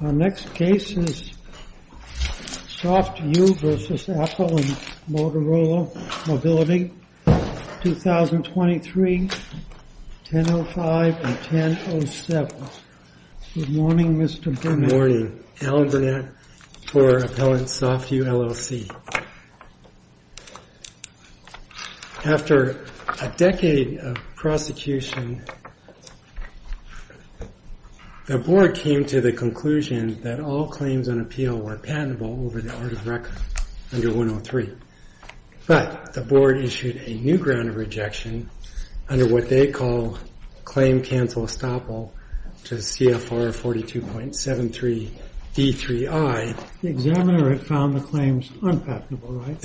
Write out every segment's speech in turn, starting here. Our next case is SoftView v. Apple and Motorola Mobility, 2023, 10.05 and 10.07. Good morning, Mr. Berman. Good morning. Alan Burnett for Appellant SoftView LLC. After a decade of prosecution, the board came to the conclusion that all claims on appeal were patentable over the art of record under 103. But the board issued a new ground of rejection under what they call Claim Cancel Estoppel to CFR 42.73 D3I. The examiner had found the claims unpatentable, right?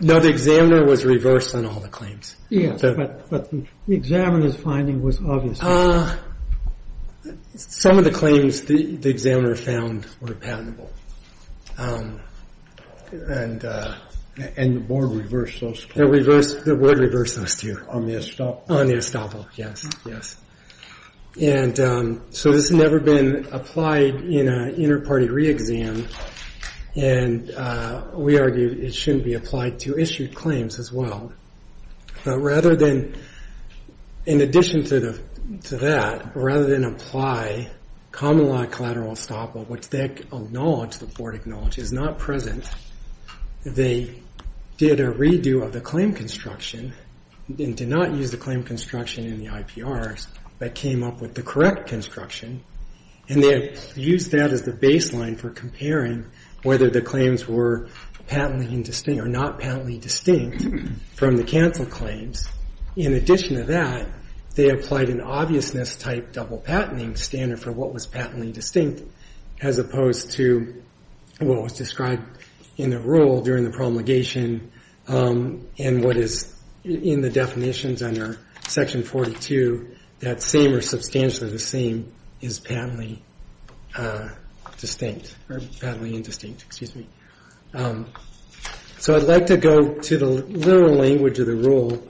No, the examiner was reversed on all the claims. Yes, but the examiner's finding was obvious. Some of the claims the examiner found were patentable. And the board reversed those? The board reversed those, too. On the estoppel? On the estoppel, yes. And so this has never been applied in an inter-party re-exam, and we argue it shouldn't be applied to issued claims as well. But rather than, in addition to that, rather than apply common-law collateral estoppel, which they acknowledge, the board acknowledges, not present, they did a redo of the claim construction and did not use the claim construction in the IPRs, but came up with the correct construction. And they used that as the baseline for comparing whether the claims were patently distinct or not patently distinct from the cancel claims. In addition to that, they applied an obviousness-type double-patenting standard for what was patently distinct, as opposed to what was described in the rule during the promulgation and what is in the definitions under Section 42, that same or substantially the same is patently distinct or patently indistinct. Excuse me. So I'd like to go to the literal language of the rule.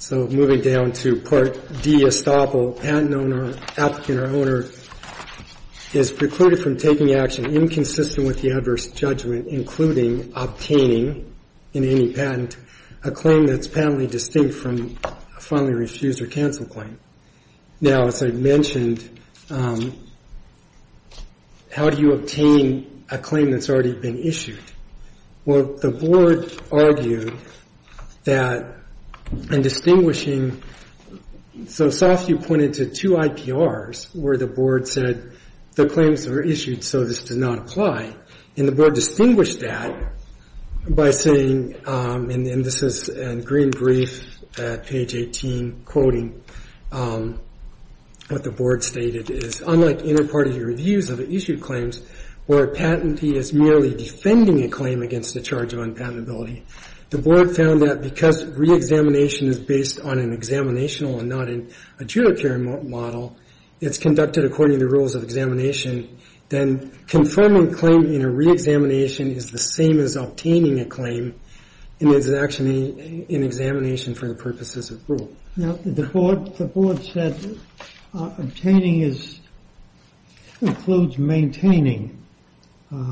So moving down to Part D, estoppel. Patent owner, applicant or owner is precluded from taking action inconsistent with the adverse judgment, including obtaining, in any patent, a claim that's patently distinct from a fondly refused or canceled claim. Now, as I mentioned, how do you obtain a claim that's already been issued? Well, the board argued that in distinguishing so soft you pointed to two IPRs where the board said the claims are issued so this does not apply. And the board distinguished that by saying, and this is in green brief at page 18, quoting what the board stated is, unlike inter-party reviews of issued claims where patentee is merely defending a claim against the charge of unpatentability, the board found that because reexamination is based on an examinational and not a judiciary model, it's conducted according to the rules of examination, then confirming a claim in a reexamination is the same as obtaining a claim and is actually an examination for the purposes of rule. Now, the board said obtaining includes maintaining a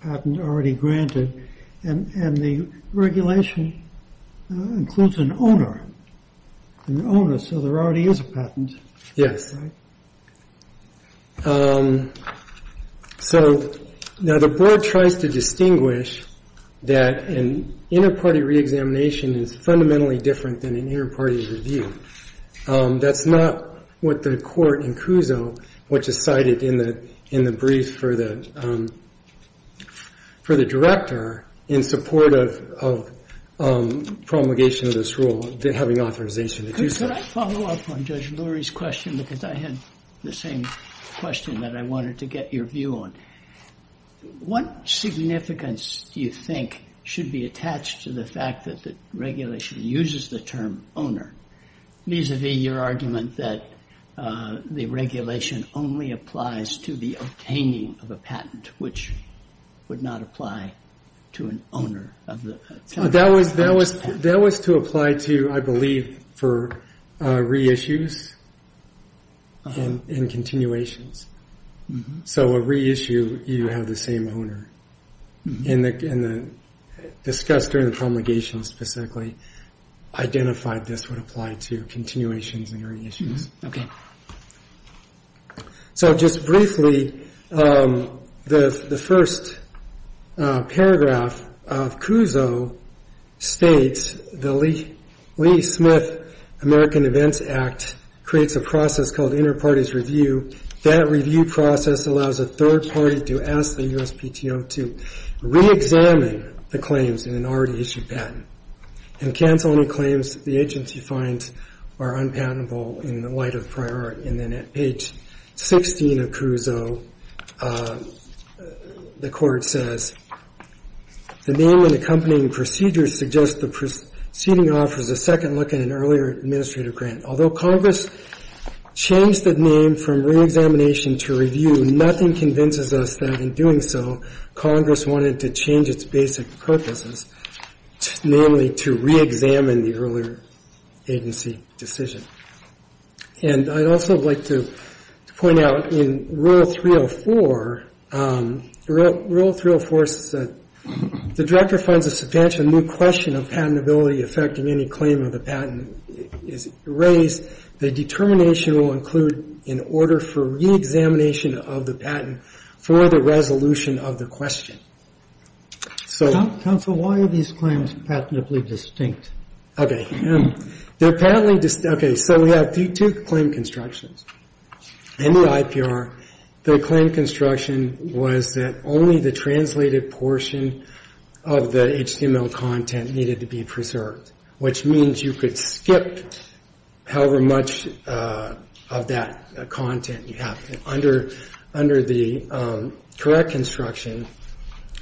patent already granted and the regulation includes an owner. So there already is a patent. Yes. So now the board tries to distinguish that an inter-party reexamination is fundamentally different than an inter-party review. That's not what the court in Cuso, which is cited in the brief for the director, in support of promulgation of this rule, having authorization to do so. Could I follow up on Judge Lurie's question because I had the same question that I wanted to get your view on? What significance do you think should be attached to the fact that the regulation uses the term owner, vis-a-vis your argument that the regulation only applies to the obtaining of a patent, which would not apply to an owner of the patent? That was to apply to, I believe, for reissues and continuations. So a reissue, you have the same owner. And discussed during the promulgation specifically, identified this would apply to continuations and reissues. Okay. So just briefly, the first paragraph of Cuso states the Lee-Smith American Events Act creates a process called inter-parties review. That review process allows a third party to ask the USPTO to reexamine the claims in an already issued patent and cancel any claims the agency finds are unpatentable in the light of priority. And then at page 16 of Cuso, the court says, the name and accompanying procedures suggest the proceeding offers a second look at an earlier administrative grant. Although Congress changed the name from reexamination to review, nothing convinces us that in doing so, Congress wanted to change its basic purposes, namely to reexamine the earlier agency decision. And I'd also like to point out in Rule 304, Rule 304 says, if the director finds a substantial new question of patentability affecting any claim of the patent is raised, the determination will include an order for reexamination of the patent for the resolution of the question. So... Counsel, why are these claims patentably distinct? Okay. They're apparently distinct. Okay. So we have two claim constructions. In the IPR, the claim construction was that only the translated portion of the HTML content needed to be preserved, which means you could skip however much of that content you have. Under the correct construction,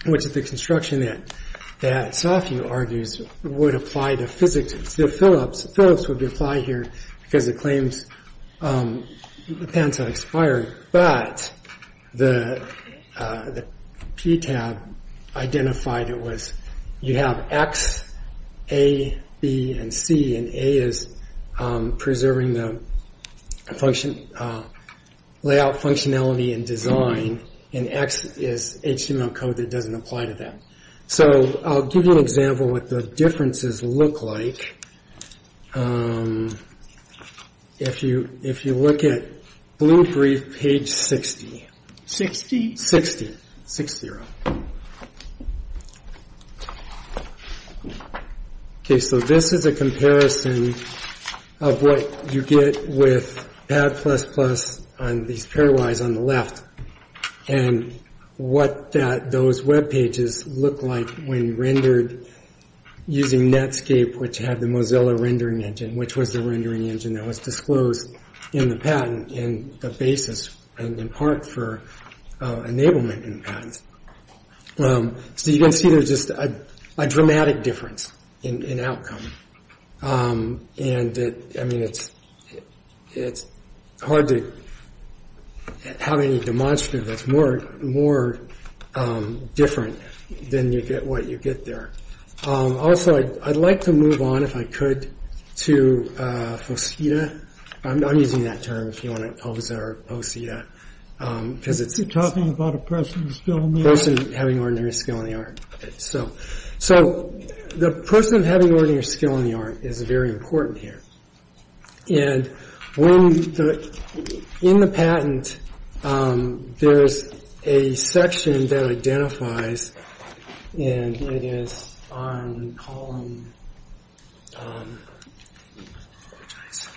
which is the construction that Sofie argues would apply to physics, the Phillips would apply here because it claims the patents have expired, but the PTAB identified it was you have X, A, B, and C, and A is preserving the layout functionality and design, and X is HTML code that doesn't apply to that. So I'll give you an example of what the differences look like. If you look at Blue Brief, page 60. 60? 60. 6-0. Okay, so this is a comparison of what you get with PAD++ on these pairwise on the left, and what those web pages look like when rendered using Netscape, which had the Mozilla rendering engine, which was the rendering engine that was disclosed in the patent, and the basis in part for enablement in patents. So you can see there's just a dramatic difference in outcome, and, I mean, it's hard to have any demonstrative that's more different than what you get there. Also, I'd like to move on, if I could, to Posita. I'm using that term if you want it, Poza or Posita, because it's... You're talking about a person with skill in the art? A person having ordinary skill in the art. So the person having ordinary skill in the art is very important here. And in the patent, there's a section that identifies, and it is on column... Which way is it?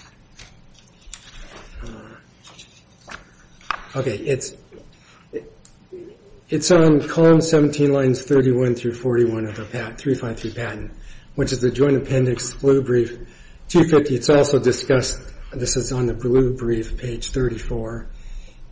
Okay, it's on column 17, lines 31 through 41 of the 353 patent, which is the joint appendix, blue brief, 250. It's also discussed, this is on the blue brief, page 34,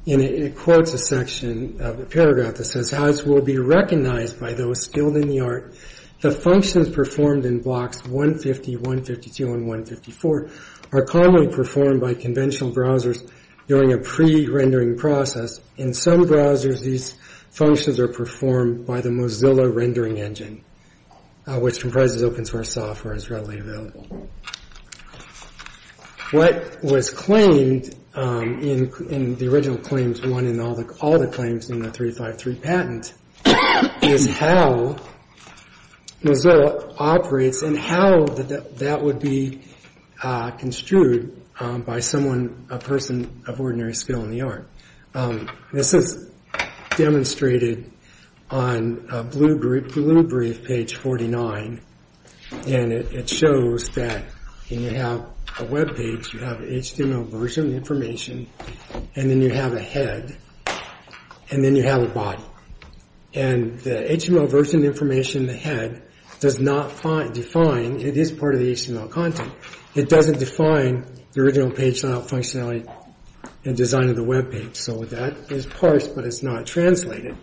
and it quotes a section, a paragraph that says, As will be recognized by those skilled in the art, the functions performed in blocks 150, 152, and 154 are commonly performed by conventional browsers during a pre-rendering process. In some browsers, these functions are performed by the Mozilla rendering engine, which comprises open-source software and is readily available. What was claimed in the original claims, one in all the claims in the 353 patent, is how Mozilla operates and how that would be construed by someone, a person of ordinary skill in the art. This is demonstrated on a blue brief, page 49, and it shows that you have a web page, you have HTML version information, and then you have a head, and then you have a body. And the HTML version information, the head, does not define, it is part of the HTML content, it doesn't define the original page layout functionality and design of the web page. So that is parsed, but it's not translated.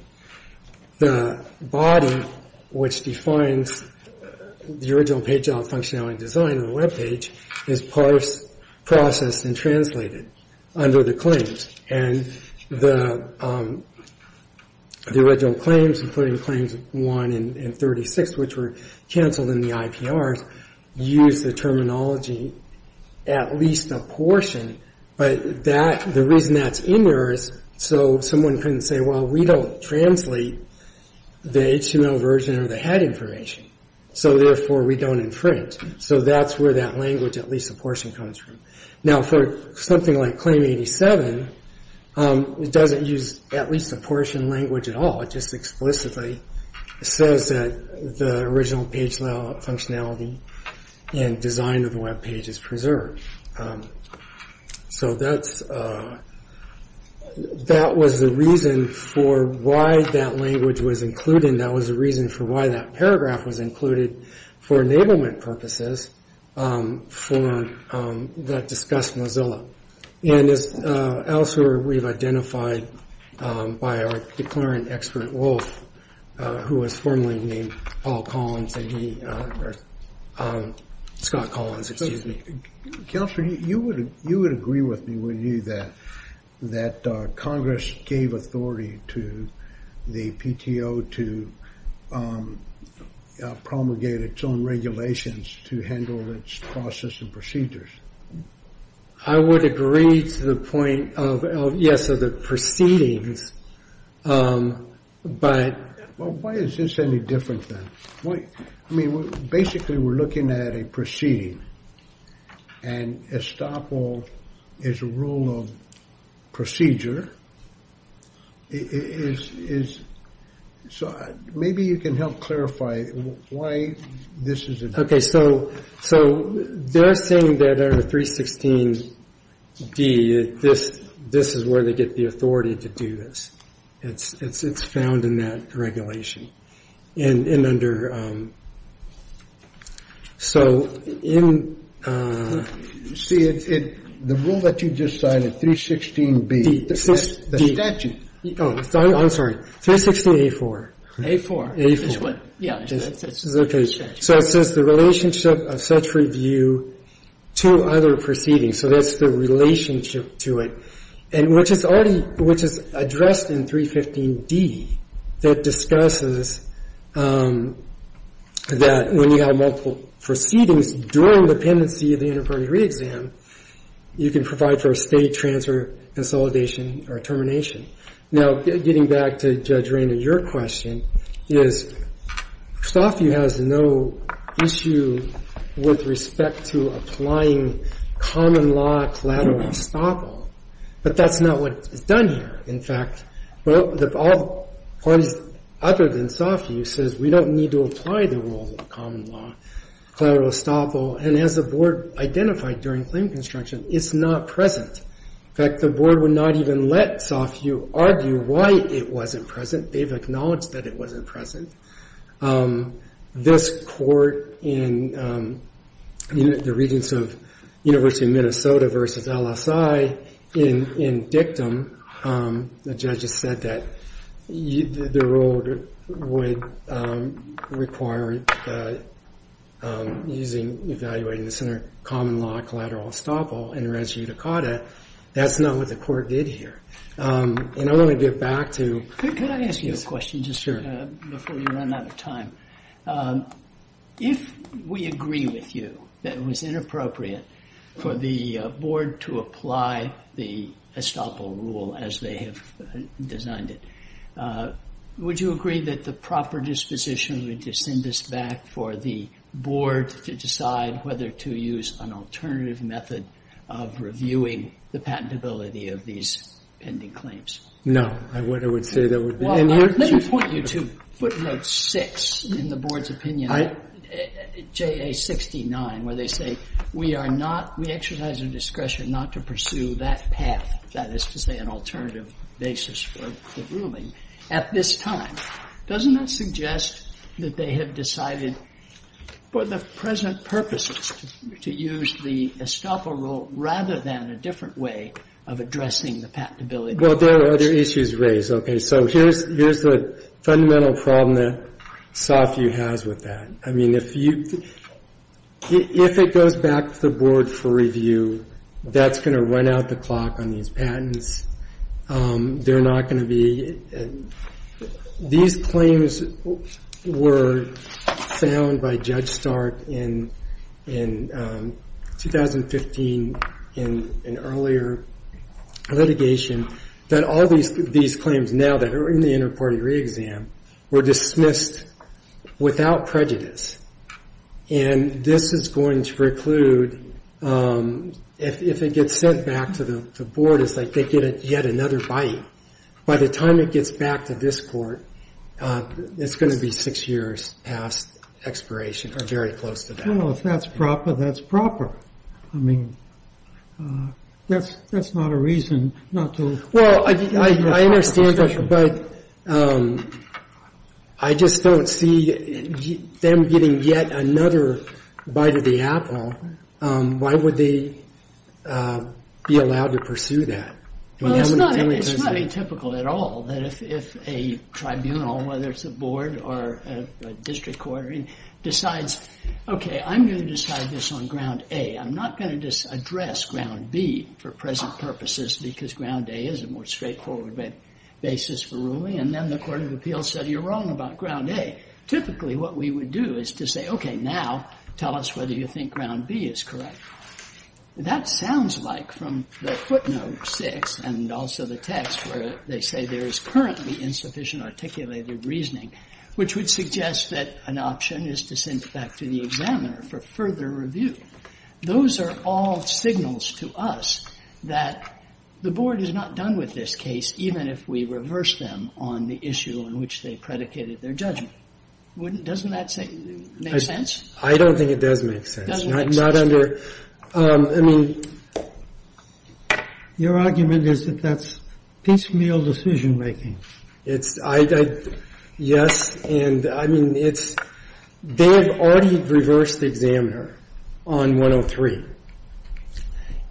The body, which defines the original page layout functionality and design of the web page, is parsed, processed, and translated under the claims. And the original claims, including claims one and 36, which were cancelled in the IPRs, use the terminology at least a portion, but the reason that's in there is so someone can say, well we don't translate the HTML version or the head information, so therefore we don't infringe. So that's where that language at least a portion comes from. Now for something like claim 87, it doesn't use at least a portion language at all, it just explicitly says that the original page layout functionality and design of the web page is preserved. So that was the reason for why that language was included, that was the reason for why that paragraph was included for enablement purposes that discussed Mozilla. And elsewhere we've identified by our declarant expert Wolf, who was formerly named Paul Collins, Scott Collins, excuse me. Counselor, you would agree with me, wouldn't you, that Congress gave authority to the PTO to promulgate its own regulations to handle its process and procedures? I would agree to the point of, yes, of the proceedings, but... Well, why is this any different then? I mean, basically we're looking at a proceeding, and estoppel is a rule of procedure. So maybe you can help clarify why this is a... Okay, so they're saying that under 316D, this is where they get the authority to do this. It's found in that regulation. And under... So in... See, the rule that you just cited, 316B, the statute... Oh, I'm sorry. 316A4. A4. A4. Yeah. So it says the relationship of such review to other proceedings. So that's the relationship to it. And which is already, which is addressed in 315D that discusses that when you have multiple proceedings during the pendency of the interim jury exam, you can provide for a state transfer, consolidation, or termination. Now, getting back to Judge Rainer, your question is, SAWVIEW has no issue with respect to applying common law collateral estoppel. But that's not what is done here. In fact, all parties other than SAWVIEW says, we don't need to apply the rule of common law collateral estoppel. And as the Board identified during claim construction, it's not present. In fact, the Board would not even let SAWVIEW argue why it wasn't present. They've acknowledged that it wasn't present. This court in the regents of University of Minnesota versus LSI in dictum, the judges said that the rule would require using, evaluating the common law collateral estoppel and res judicata. That's not what the court did here. And I want to get back to... Could I ask you a question just before you run out of time? If we agree with you that it was inappropriate for the Board to apply the estoppel rule as they have designed it, would you agree that the proper disposition would just send us back for the Board to decide whether to use an alternative method of reviewing the patentability of these pending claims? No. I would say that would be... Well, let me point you to footnote 6 in the Board's opinion, JA69, where they say we are not, we exercise our discretion not to pursue that path, that is to say an alternative basis for the ruling at this time. Doesn't that suggest that they have decided for the present purposes to use the estoppel rule rather than a different way of addressing the patentability? Well, there are other issues raised. Okay. So here's the fundamental problem that SOFU has with that. I mean, if it goes back to the Board for review, that's going to run out the clock on these patents. They're not going to be... These claims were found by Judge Stark in 2015 in an earlier litigation that all these claims now that are in the inter-party re-exam were dismissed without prejudice. And this is going to preclude, if it gets sent back to the Board, it's like they get yet another bite. By the time it gets back to this Court, it's going to be six years past expiration or very close to that. Well, if that's proper, that's proper. I mean, that's not a reason not to... Well, I understand, but I just don't see them getting yet another bite of the apple. Why would they be allowed to pursue that? Well, it's not atypical at all that if a tribunal, whether it's a board or a district court, decides, okay, I'm going to decide this on ground A. I'm not going to just address ground B for present purposes because ground A is a more straightforward basis for ruling. And then the Court of Appeals said, you're wrong about ground A. Typically, what we would do is to say, okay, now tell us whether you think ground B is correct. That sounds like, from the footnote 6 and also the text, where they say there is currently insufficient articulated reasoning, which would suggest that an option is to send it back to the examiner for further review. Those are all signals to us that the Board is not done with this case, even if we reverse them on the issue on which they predicated their judgment. Doesn't that make sense? I don't think it does make sense. I mean, your argument is that that's piecemeal decision-making. Yes. And, I mean, they have already reversed the examiner on 103.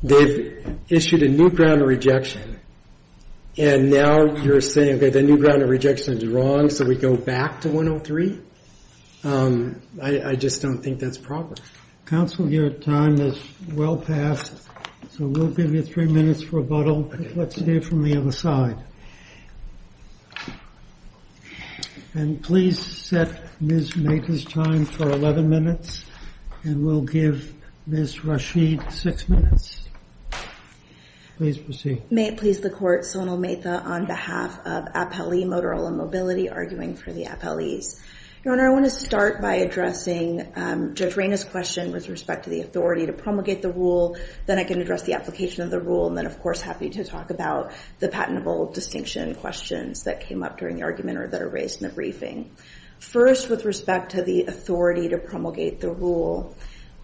They've issued a new ground of rejection. And now you're saying, okay, the new ground of rejection is wrong, so we go back to 103? I just don't think that's proper. Counsel, your time has well passed, so we'll give you three minutes for rebuttal. Let's hear from the other side. And please set Ms. Mather's time for 11 minutes, and we'll give Ms. Rashid six minutes. Please proceed. May it please the Court, Sonal Mather on behalf of Appellee Motorola Mobility, arguing for the appellees. Your Honor, I want to start by addressing Judge Rayna's question with respect to the authority to promulgate the rule, then I can address the application of the rule, and then, of course, happy to talk about the patentable distinction questions that came up during the argument or that are raised in the briefing. First, with respect to the authority to promulgate the rule,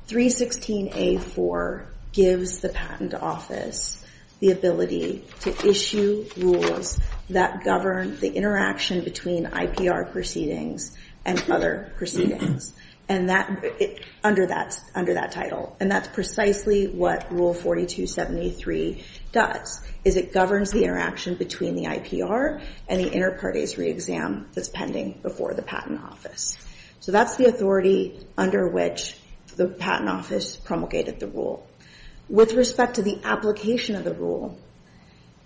316A.4 gives the Patent Office the ability to issue rules that govern the interaction between IPR proceedings and other proceedings under that title, and that's precisely what Rule 4273 does, is it governs the interaction between the IPR and the inter partes re-exam that's pending before the Patent Office. So that's the authority under which the Patent Office promulgated the rule. With respect to the application of the rule,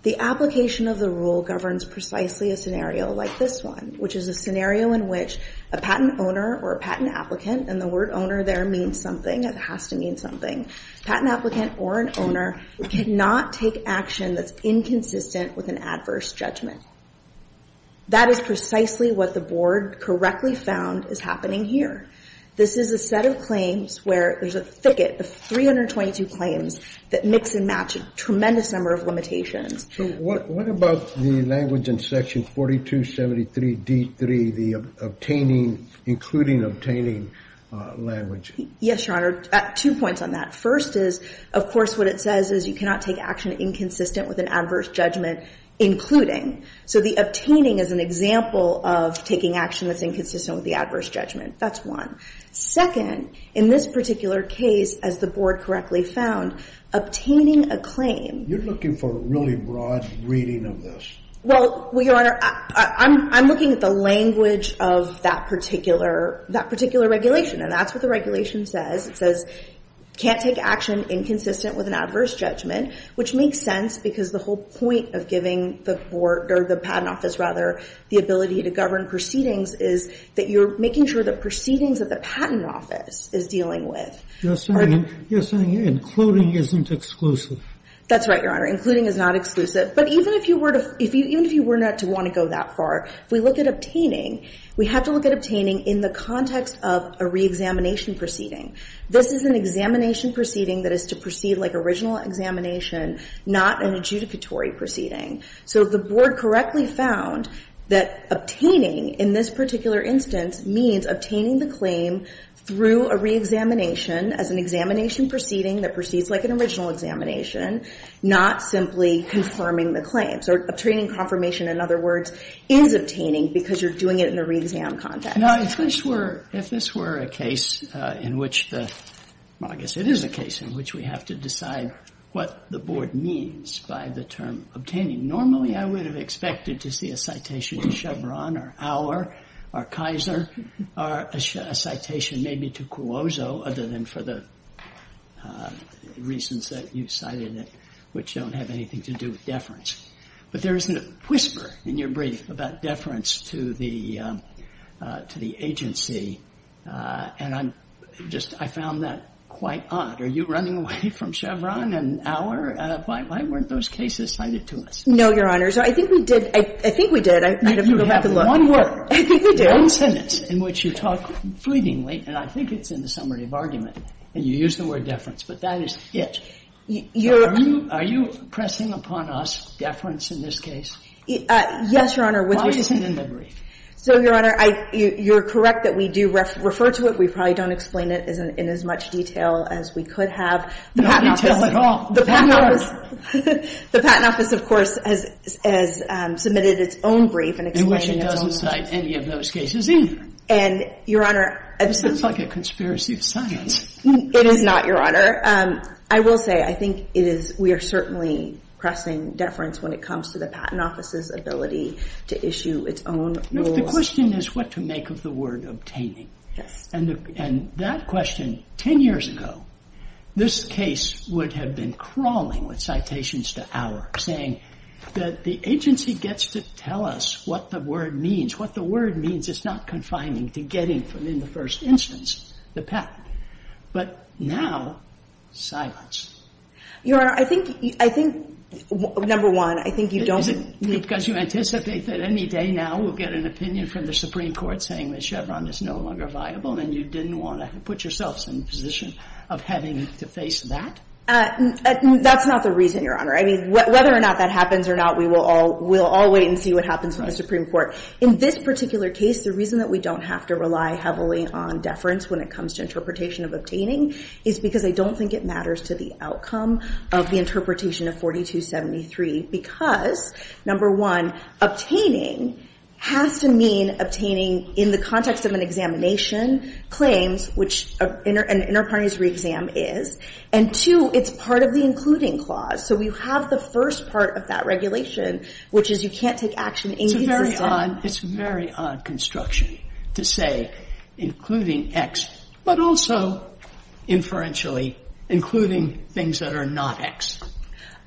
the application of the rule governs precisely a scenario like this one, which is a scenario in which a patent owner or a patent applicant, and the word owner there means something, it has to mean something, patent applicant or an owner cannot take action that's inconsistent with an adverse judgment. That is precisely what the Board correctly found is happening here. This is a set of claims where there's a thicket of 322 claims that mix and match a tremendous number of limitations. So what about the language in Section 4273D3, the obtaining, including obtaining language? Yes, Your Honor. Two points on that. First is, of course, what it says is you cannot take action inconsistent with an adverse judgment, including. So the obtaining is an example of taking action that's inconsistent with the adverse judgment. That's one. Second, in this particular case, as the Board correctly found, obtaining a claim. You're looking for a really broad reading of this. Well, Your Honor, I'm looking at the language of that particular regulation, and that's what the regulation says. It says can't take action inconsistent with an adverse judgment, which makes sense because the whole point of giving the Board, or the Patent Office rather, the ability to govern proceedings is that you're making sure the proceedings of the Patent Office is dealing with. You're saying including isn't exclusive. That's right, Your Honor. Including is not exclusive. But even if you were not to want to go that far, if we look at obtaining, we have to look at obtaining in the context of a reexamination proceeding. This is an examination proceeding that is to proceed like original examination, not an adjudicatory proceeding. So the Board correctly found that obtaining in this particular instance means obtaining the claim through a reexamination as an examination proceeding that proceeds like an original examination, not simply confirming the claim. So obtaining confirmation, in other words, is obtaining because you're doing it in a reexam context. Now, if this were a case in which the – well, I guess it is a case in which we have to decide what the Board means by the term obtaining. Normally, I would have expected to see a citation to Chevron or Auer or Kaiser or a citation maybe to Cuozzo other than for the reasons that you cited, which don't have anything to do with deference. But there is a whisper in your brief about deference to the agency, and I'm just – I found that quite odd. Are you running away from Chevron and Auer? Why weren't those cases cited to us? No, Your Honor. So I think we did. I think we did. I have to go back and look. You have one word. I think we did. One sentence in which you talk fleetingly, and I think it's in the summary of argument, and you use the word deference. But that is it. Are you pressing upon us deference in this case? Yes, Your Honor. Why isn't it in the brief? So, Your Honor, you're correct that we do refer to it. We probably don't explain it in as much detail as we could have. No detail at all. No, Your Honor. The Patent Office, of course, has submitted its own brief in explaining its own deference. In which it doesn't cite any of those cases either. And, Your Honor – It sounds like a conspiracy of science. It is not, Your Honor. I will say I think it is – we are certainly pressing deference when it comes to the Patent Office's ability to issue its own rules. The question is what to make of the word obtaining. Yes. And that question, 10 years ago, this case would have been crawling with citations to our saying that the agency gets to tell us what the word means. What the word means, it's not confining to getting from in the first instance the patent. But now, silence. Your Honor, I think – I think, number one, I think you don't – Is it because you anticipate that any day now we'll get an opinion from the Supreme Court that it's no longer viable and you didn't want to put yourself in the position of having to face that? That's not the reason, Your Honor. I mean, whether or not that happens or not, we will all wait and see what happens in the Supreme Court. In this particular case, the reason that we don't have to rely heavily on deference when it comes to interpretation of obtaining is because I don't think it matters to the outcome of the interpretation of 4273. Because, number one, obtaining has to mean obtaining in the context of an examination claims, which an inter partes re-exam is. And, two, it's part of the including clause. So we have the first part of that regulation, which is you can't take action any given day. It's a very odd – it's a very odd construction to say including X, but also, inferentially, including things that are not X.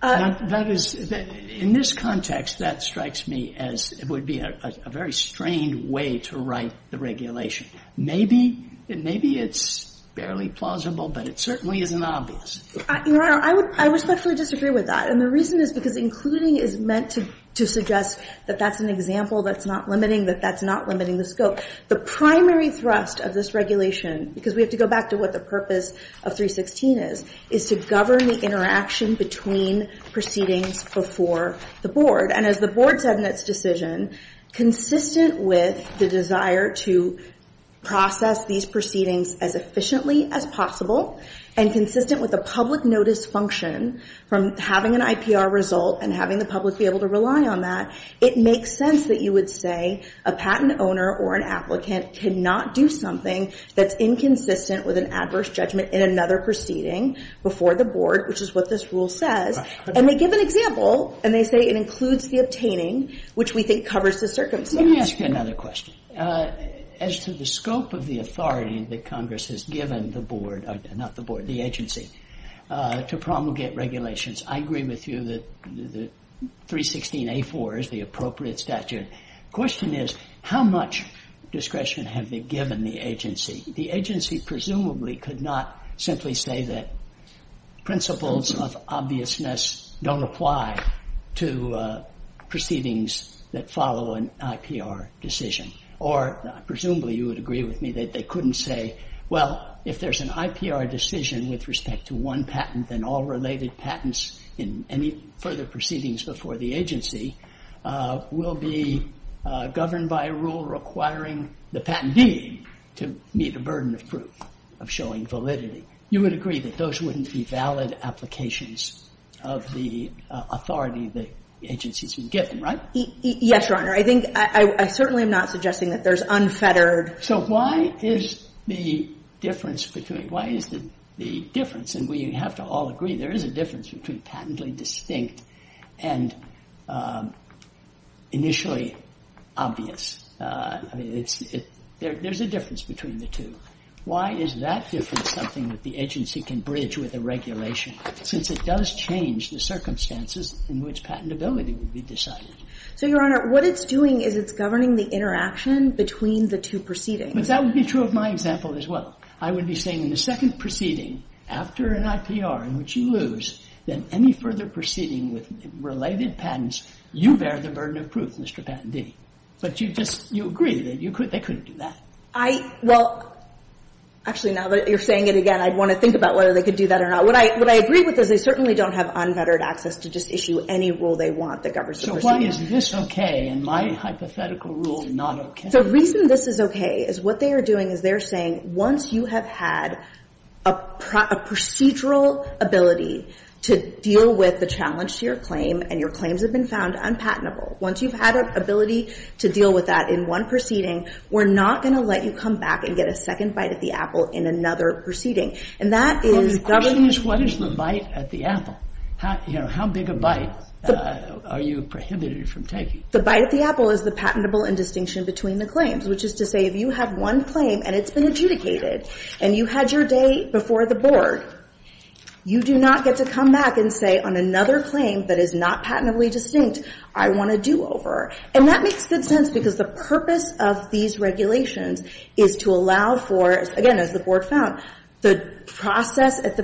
That is, in this context, that strikes me as it would be a very strained way to write the regulation. Maybe it's barely plausible, but it certainly isn't obvious. Your Honor, I respectfully disagree with that. And the reason is because including is meant to suggest that that's an example that's not limiting, that that's not limiting the scope. The primary thrust of this regulation, because we have to go back to what the purpose of 316 is, is to govern the interaction between proceedings before the board. And as the board said in its decision, consistent with the desire to process these proceedings as efficiently as possible, and consistent with the public notice function from having an IPR result and having the public be able to rely on that, it makes sense that you would say a patent owner or an applicant cannot do something that's inconsistent with an adverse judgment in another proceeding before the board, which is what this rule says. And they give an example, and they say it includes the obtaining, which we think covers the circumstances. Let me ask you another question. As to the scope of the authority that Congress has given the board – not the board, the agency – to promulgate regulations, I agree with you that 316a.4 is the appropriate statute. The question is, how much discretion have they given the agency? The agency presumably could not simply say that principles of obviousness don't apply to proceedings that follow an IPR decision. Or presumably you would agree with me that they couldn't say, well, if there's an IPR decision with respect to one patent, then all related patents in any further proceedings before the agency will be governed by a rule requiring the patentee to meet a burden of proof of showing validity. You would agree that those wouldn't be valid applications of the authority that the agency's been given, right? Yes, Your Honor. I think – I certainly am not suggesting that there's unfettered – So why is the difference between – why is the difference – and we have to all agree there is a difference between patently distinct and initially obvious. I mean, it's – there's a difference between the two. Why is that difference something that the agency can bridge with a regulation since it does change the circumstances in which patentability would be decided? So, Your Honor, what it's doing is it's governing the interaction between the two proceedings. But that would be true of my example as well. I would be saying in the second proceeding after an IPR in which you lose, then any further proceeding with related patents, you bear the burden of proof, Mr. Patentee. But you just – you agree that you could – they couldn't do that. I – well, actually, now that you're saying it again, I'd want to think about whether they could do that or not. What I agree with is they certainly don't have unfettered access to just issue any rule they want that governs the procedure. So why is this okay and my hypothetical rule not okay? The reason this is okay is what they are doing is they're saying once you have had a procedural ability to deal with the challenge to your claim and your claims have been found unpatentable, once you've had an ability to deal with that in one proceeding, we're not going to let you come back and get a second bite at the apple in another proceeding. And that is governing – Well, the question is what is the bite at the apple? You know, how big a bite are you prohibited from taking? The bite at the apple is the patentable indistinction between the claims, which is to say if you have one claim and it's been adjudicated and you had your day before the board, you do not get to come back and say on another claim that is not patentably distinct, I want a do-over. And that makes good sense because the purpose of these regulations is to allow for, again, as the board found, the process at the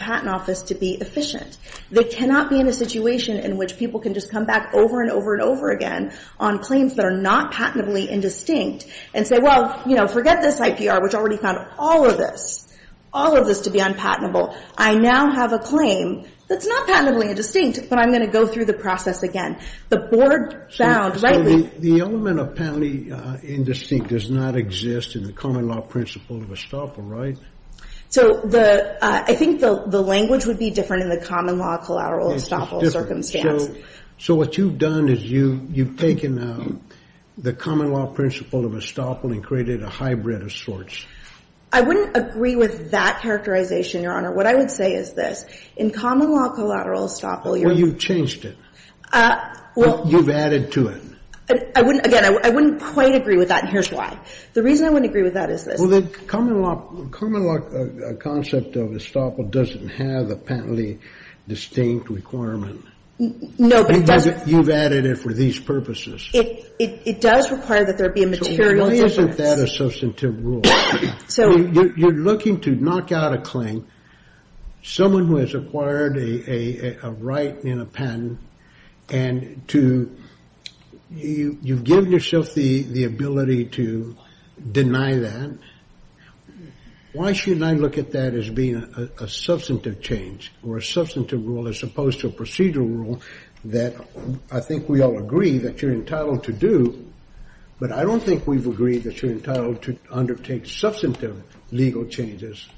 patent office to be efficient. They cannot be in a situation in which people can just come back over and over and over again on claims that are not patentably indistinct and say, well, you know, forget this IPR, which already found all of this, all of this to be unpatentable. I now have a claim that's not patentably indistinct, but I'm going to go through the process again. The board found rightly – So the element of patently indistinct does not exist in the common law principle of estoppel, right? So the – I think the language would be different in the common law collateral estoppel circumstance. Yes. So what you've done is you've taken the common law principle of estoppel and created a hybrid of sorts. I wouldn't agree with that characterization, Your Honor. What I would say is this. In common law collateral estoppel, you're – Well, you've changed it. Well – You've added to it. I wouldn't – again, I wouldn't quite agree with that, and here's why. The reason I wouldn't agree with that is this. Well, the common law concept of estoppel doesn't have a patently distinct requirement. No, but it does – You've added it for these purposes. It does require that there be a material difference. So why isn't that a substantive rule? So – You're looking to knock out a claim, someone who has acquired a right in a patent, and to – you've given yourself the ability to deny that. Why shouldn't I look at that as being a substantive change or a substantive rule as opposed to a procedural rule that I think we all agree that you're entitled to do, but I don't think we've agreed that you're entitled to undertake substantive legal changes.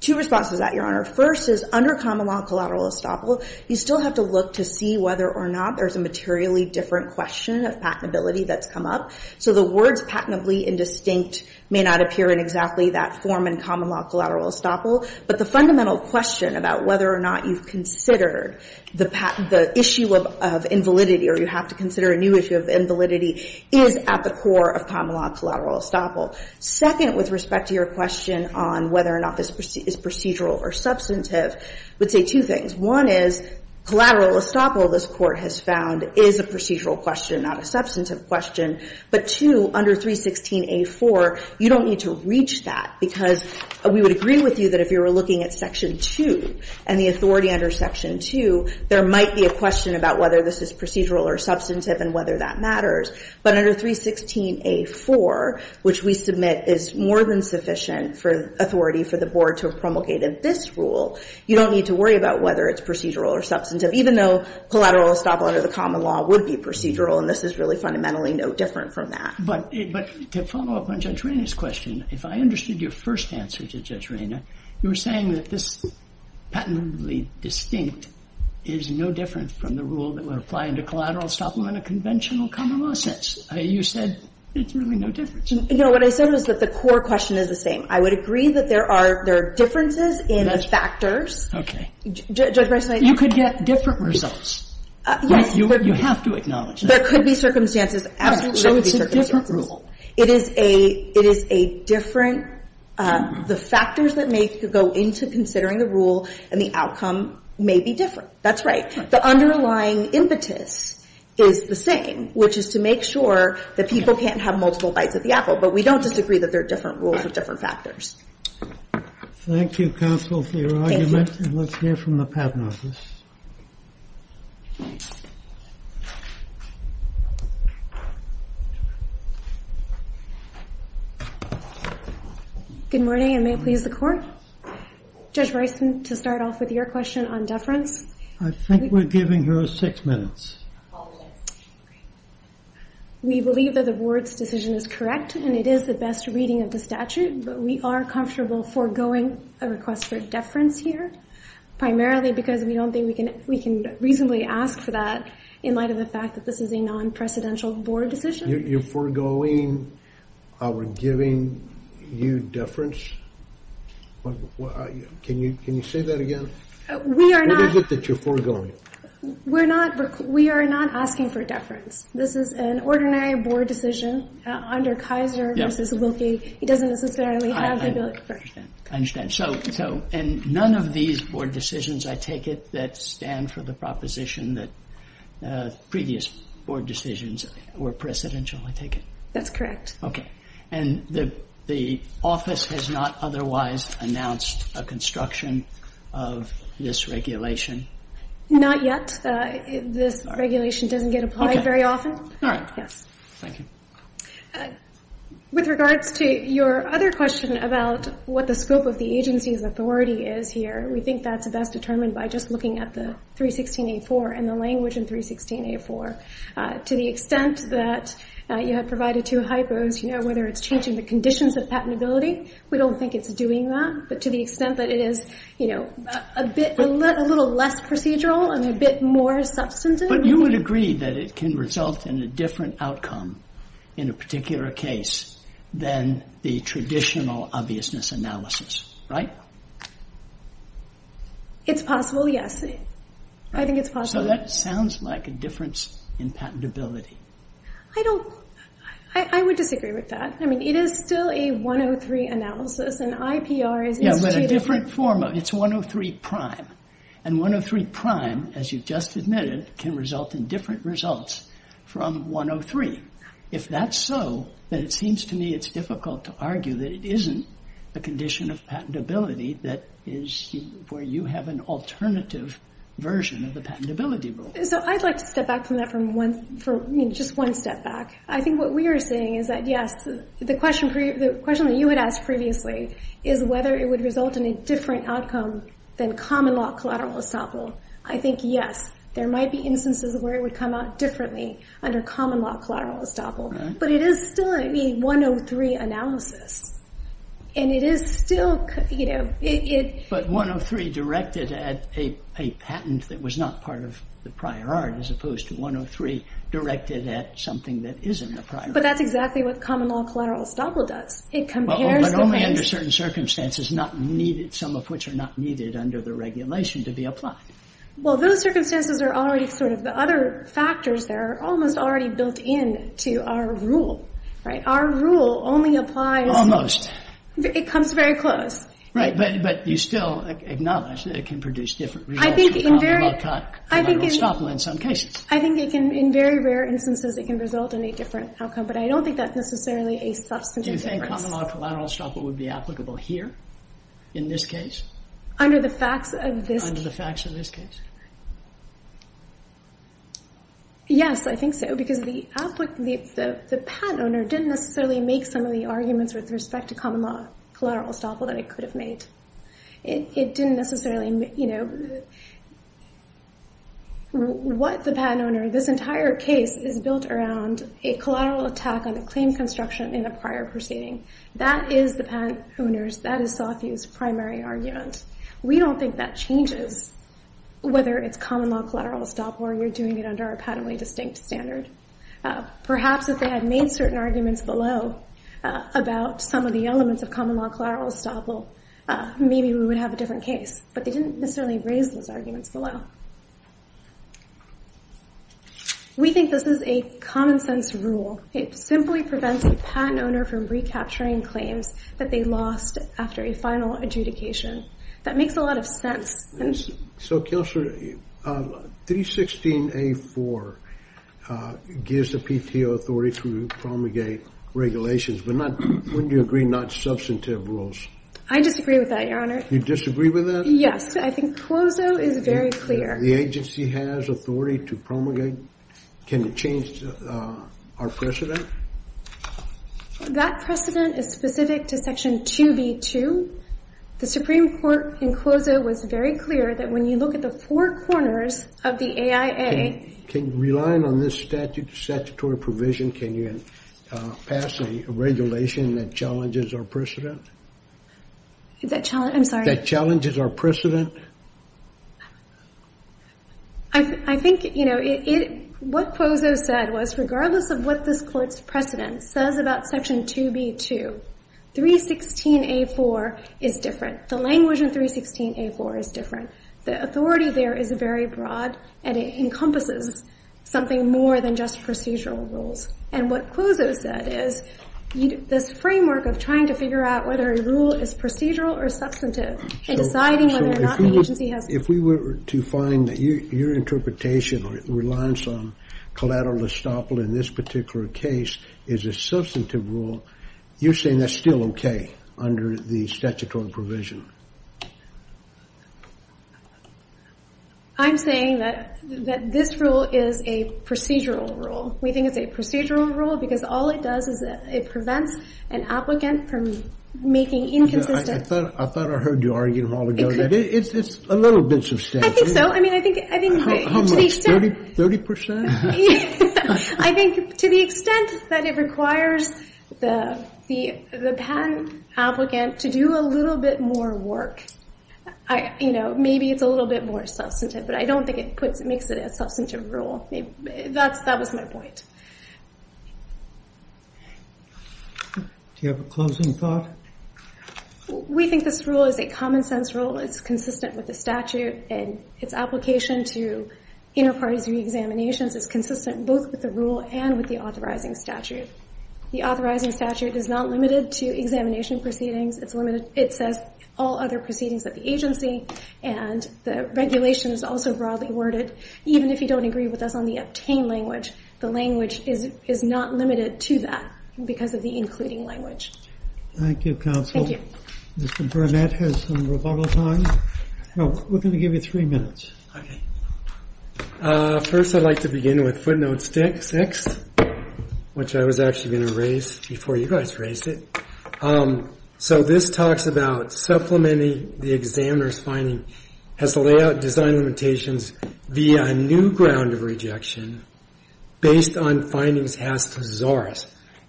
Two responses to that, Your Honor. First is, under common law collateral estoppel, you still have to look to see whether or not there's a materially different question of patentability that's come up. So the words patentably indistinct may not appear in exactly that form in common law collateral estoppel, but the fundamental question about whether or not you've considered the issue of invalidity or you have to consider a new issue of invalidity is at the core of common law collateral estoppel. Second, with respect to your question on whether or not this is procedural or substantive, would say two things. One is, collateral estoppel, this Court has found, is a procedural question, not a substantive question. But two, under 316A4, you don't need to reach that because we would agree with you that if you were looking at Section 2 and the authority under Section 2, there might be a question about whether this is procedural or substantive and whether that matters. But under 316A4, which we submit is more than sufficient for authority for the Board to have promulgated this rule, you don't need to worry about whether it's procedural or substantive, even though collateral estoppel under the common law would be procedural and this is really fundamentally no different from that. But to follow up on Judge Raina's question, if I understood your first answer to Judge Raina, you were saying that this patentably distinct is no different from the rule that would apply into collateral estoppel in a conventional common law sense. You said it's really no different. You know, what I said was that the core question is the same. I would agree that there are differences in the factors. Okay. You could get different results. Yes. You have to acknowledge that. There could be circumstances, absolutely there could be circumstances. So it's a different rule. It is a different rule. The factors that may go into considering the rule and the outcome may be different. That's right. The underlying impetus is the same, which is to make sure that people can't have multiple bites at the apple. But we don't disagree that there are different rules with different factors. Thank you, counsel, for your argument. Thank you. And let's hear from the patent office. Good morning, and may it please the Court? Judge Bryson, to start off with your question on deference. I think we're giving her six minutes. We believe that the Board's decision is correct, and it is the best reading of the statute. But we are comfortable foregoing a request for deference here, primarily because we don't think we can reasonably ask for that in light of the fact that this is a non-presidential Board decision. You're foregoing our giving you deference? Can you say that again? What is it that you're foregoing? We are not asking for deference. This is an ordinary Board decision under Kaiser v. Wilkie. It doesn't necessarily have the ability for deference. I understand. So in none of these Board decisions, I take it, that stand for the proposition that previous Board decisions were presidential, I take it? That's correct. Okay. And the office has not otherwise announced a construction of this regulation? Not yet. This regulation doesn't get applied very often. Okay. All right. Yes. Thank you. With regards to your other question about what the scope of the agency's authority is here, we think that's best determined by just looking at the 316A4 and the language in 316A4. To the extent that you had provided two hypos, whether it's changing the conditions of patentability, we don't think it's doing that. But to the extent that it is a little less procedural and a bit more substantive. But you would agree that it can result in a different outcome in a particular case than the traditional obviousness analysis, right? It's possible, yes. I think it's possible. So that sounds like a difference in patentability. I would disagree with that. I mean, it is still a 103 analysis, and IPR is instituted. Yeah, but a different form of it. It's 103 prime. And 103 prime, as you've just admitted, can result in different results from 103. If that's so, then it seems to me it's difficult to argue that it isn't the condition of patentability that is where you have an alternative version of the patentability rule. So I'd like to step back from that just one step back. I think what we are saying is that, yes, the question that you had asked previously is whether it would result in a different outcome than common law collateral estoppel. I think, yes, there might be instances where it would come out differently under common law collateral estoppel. But it is still, I mean, 103 analysis. And it is still, you know, it- But 103 directed at a patent that was not part of the prior art as opposed to 103 directed at something that isn't the prior art. But that's exactly what common law collateral estoppel does. It compares the things- But only under certain circumstances, not needed, some of which are not needed under the regulation to be applied. Well, those circumstances are already sort of the other factors that are almost already built into our rule, right? Our rule only applies- Almost. It comes very close. Right, but you still acknowledge that it can produce different results from common law collateral estoppel in some cases. I think it can, in very rare instances, it can result in a different outcome. But I don't think that's necessarily a substantive difference. Do you think common law collateral estoppel would be applicable here in this case? Under the facts of this- Under the facts of this case. Yes, I think so. Because the patent owner didn't necessarily make some of the arguments with respect to common law collateral estoppel that it could have made. It didn't necessarily, you know- What the patent owner- This entire case is built around a collateral attack on the claim construction in a prior proceeding. That is the patent owner's, that is Sotheby's primary argument. We don't think that changes whether it's common law collateral estoppel or you're doing it under a patently distinct standard. Perhaps if they had made certain arguments below about some of the elements of common law collateral estoppel, maybe we would have a different case. But they didn't necessarily raise those arguments below. We think this is a common sense rule. It simply prevents the patent owner from recapturing claims that they lost after a final adjudication. That makes a lot of sense. So, Counselor, 316A4 gives the PTO authority to promulgate regulations, but wouldn't you agree not substantive rules? I disagree with that, Your Honor. You disagree with that? Yes, I think CLOSO is very clear. The agency has authority to promulgate. Can it change our precedent? That precedent is specific to Section 2B2. The Supreme Court in CLOSO was very clear that when you look at the four corners of the AIA... Relying on this statutory provision, can you pass a regulation that challenges our precedent? I'm sorry? That challenges our precedent. I think what CLOSO said was, regardless of what this Court's precedent says about Section 2B2, 316A4 is different. The language in 316A4 is different. The authority there is very broad, and it encompasses something more than just procedural rules. And what CLOSO said is, this framework of trying to figure out whether a rule is procedural or substantive, and deciding whether or not the agency has... If we were to find that your interpretation or reliance on collateral estoppel in this particular case is a substantive rule, you're saying that's still okay under the statutory provision? I'm saying that this rule is a procedural rule. We think it's a procedural rule because all it does is it prevents an applicant from making inconsistent... I thought I heard you argue in the hall ago that it's a little bit substantive. I think so. I mean, I think... How much? 30%? I think to the extent that it requires the patent applicant to do a little bit more work, maybe it's a little bit more substantive, but I don't think it makes it a substantive rule. That was my point. Do you have a closing thought? We think this rule is a common-sense rule. It's consistent with the statute and its application to inter-parties re-examinations is consistent both with the rule and with the authorizing statute. The authorizing statute is not limited to examination proceedings. It says all other proceedings of the agency and the regulation is also broadly worded. Even if you don't agree with us on the obtained language, the language is not limited to that because of the including language. Thank you, counsel. Mr. Burnett has some rebuttal time. We're going to give you three minutes. Okay. First I'd like to begin with footnote 6, which I was actually going to raise before you guys raised it. So this talks about supplementing the examiner's finding has layout design limitations via a new ground of rejection based on findings passed to Zaurus.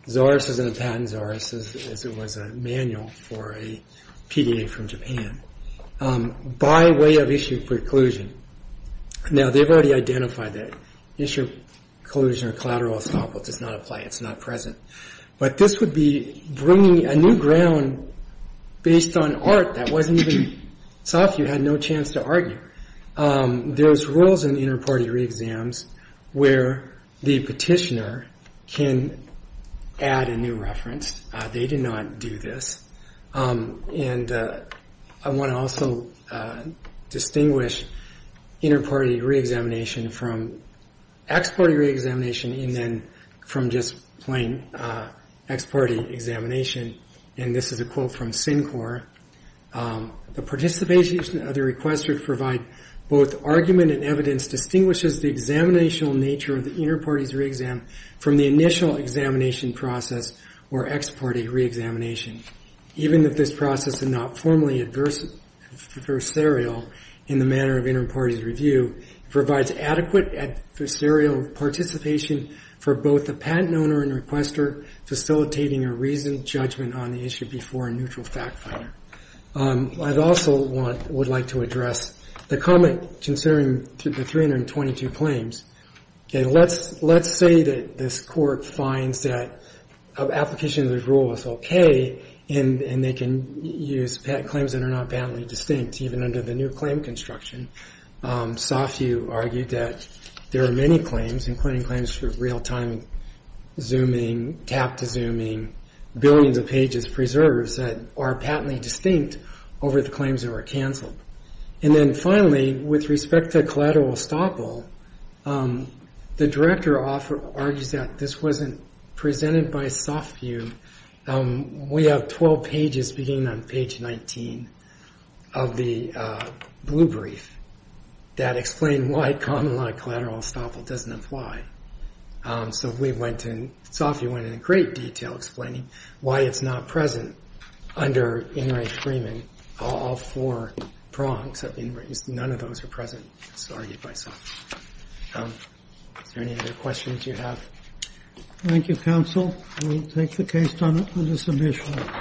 Zaurus isn't a patent Zaurus, as it was a manual for a PDA from Japan. By way of issue preclusion. Now, they've already identified that. Issue preclusion or collateral estoppel does not apply. It's not present. But this would be bringing a new ground based on art that wasn't even sought. You had no chance to argue. There's rules in inter-party re-exams where the petitioner can add a new reference. They do not do this. And I want to also distinguish inter-party re-examination from ex-party re-examination and then from just plain ex-party examination. And this is a quote from SINCOR. The participation of the requester provide both argument and evidence distinguishes the examinational nature of the inter-party's re-exam from the initial examination process or ex-party re-examination. Even if this process is not formally adversarial in the manner of inter-party review, it provides adequate adversarial participation for both the patent owner and requester facilitating a reasoned judgment on the issue before a neutral fact finder. I also would like to address the comment concerning the 322 claims. Let's say that this court finds that the application of the rule is okay and they can use claims that are not patently distinct even under the new claim construction. Softview argued that there are many claims including claims for real-time zooming, tap-to-zooming, billions of pages preserved that are patently distinct over the claims that were canceled. And then finally, with respect to collateral estoppel, the director argues that this wasn't presented by Softview. We have 12 pages beginning on page 19 of the blue brief that explain why common-law collateral estoppel doesn't apply. So Softview went into great detail explaining why it's not present under In re Freeman, all four prongs of In re Freeman. None of those are present. It's argued by Softview. Are there any other questions you have? Thank you, counsel. I will take the case on the submission.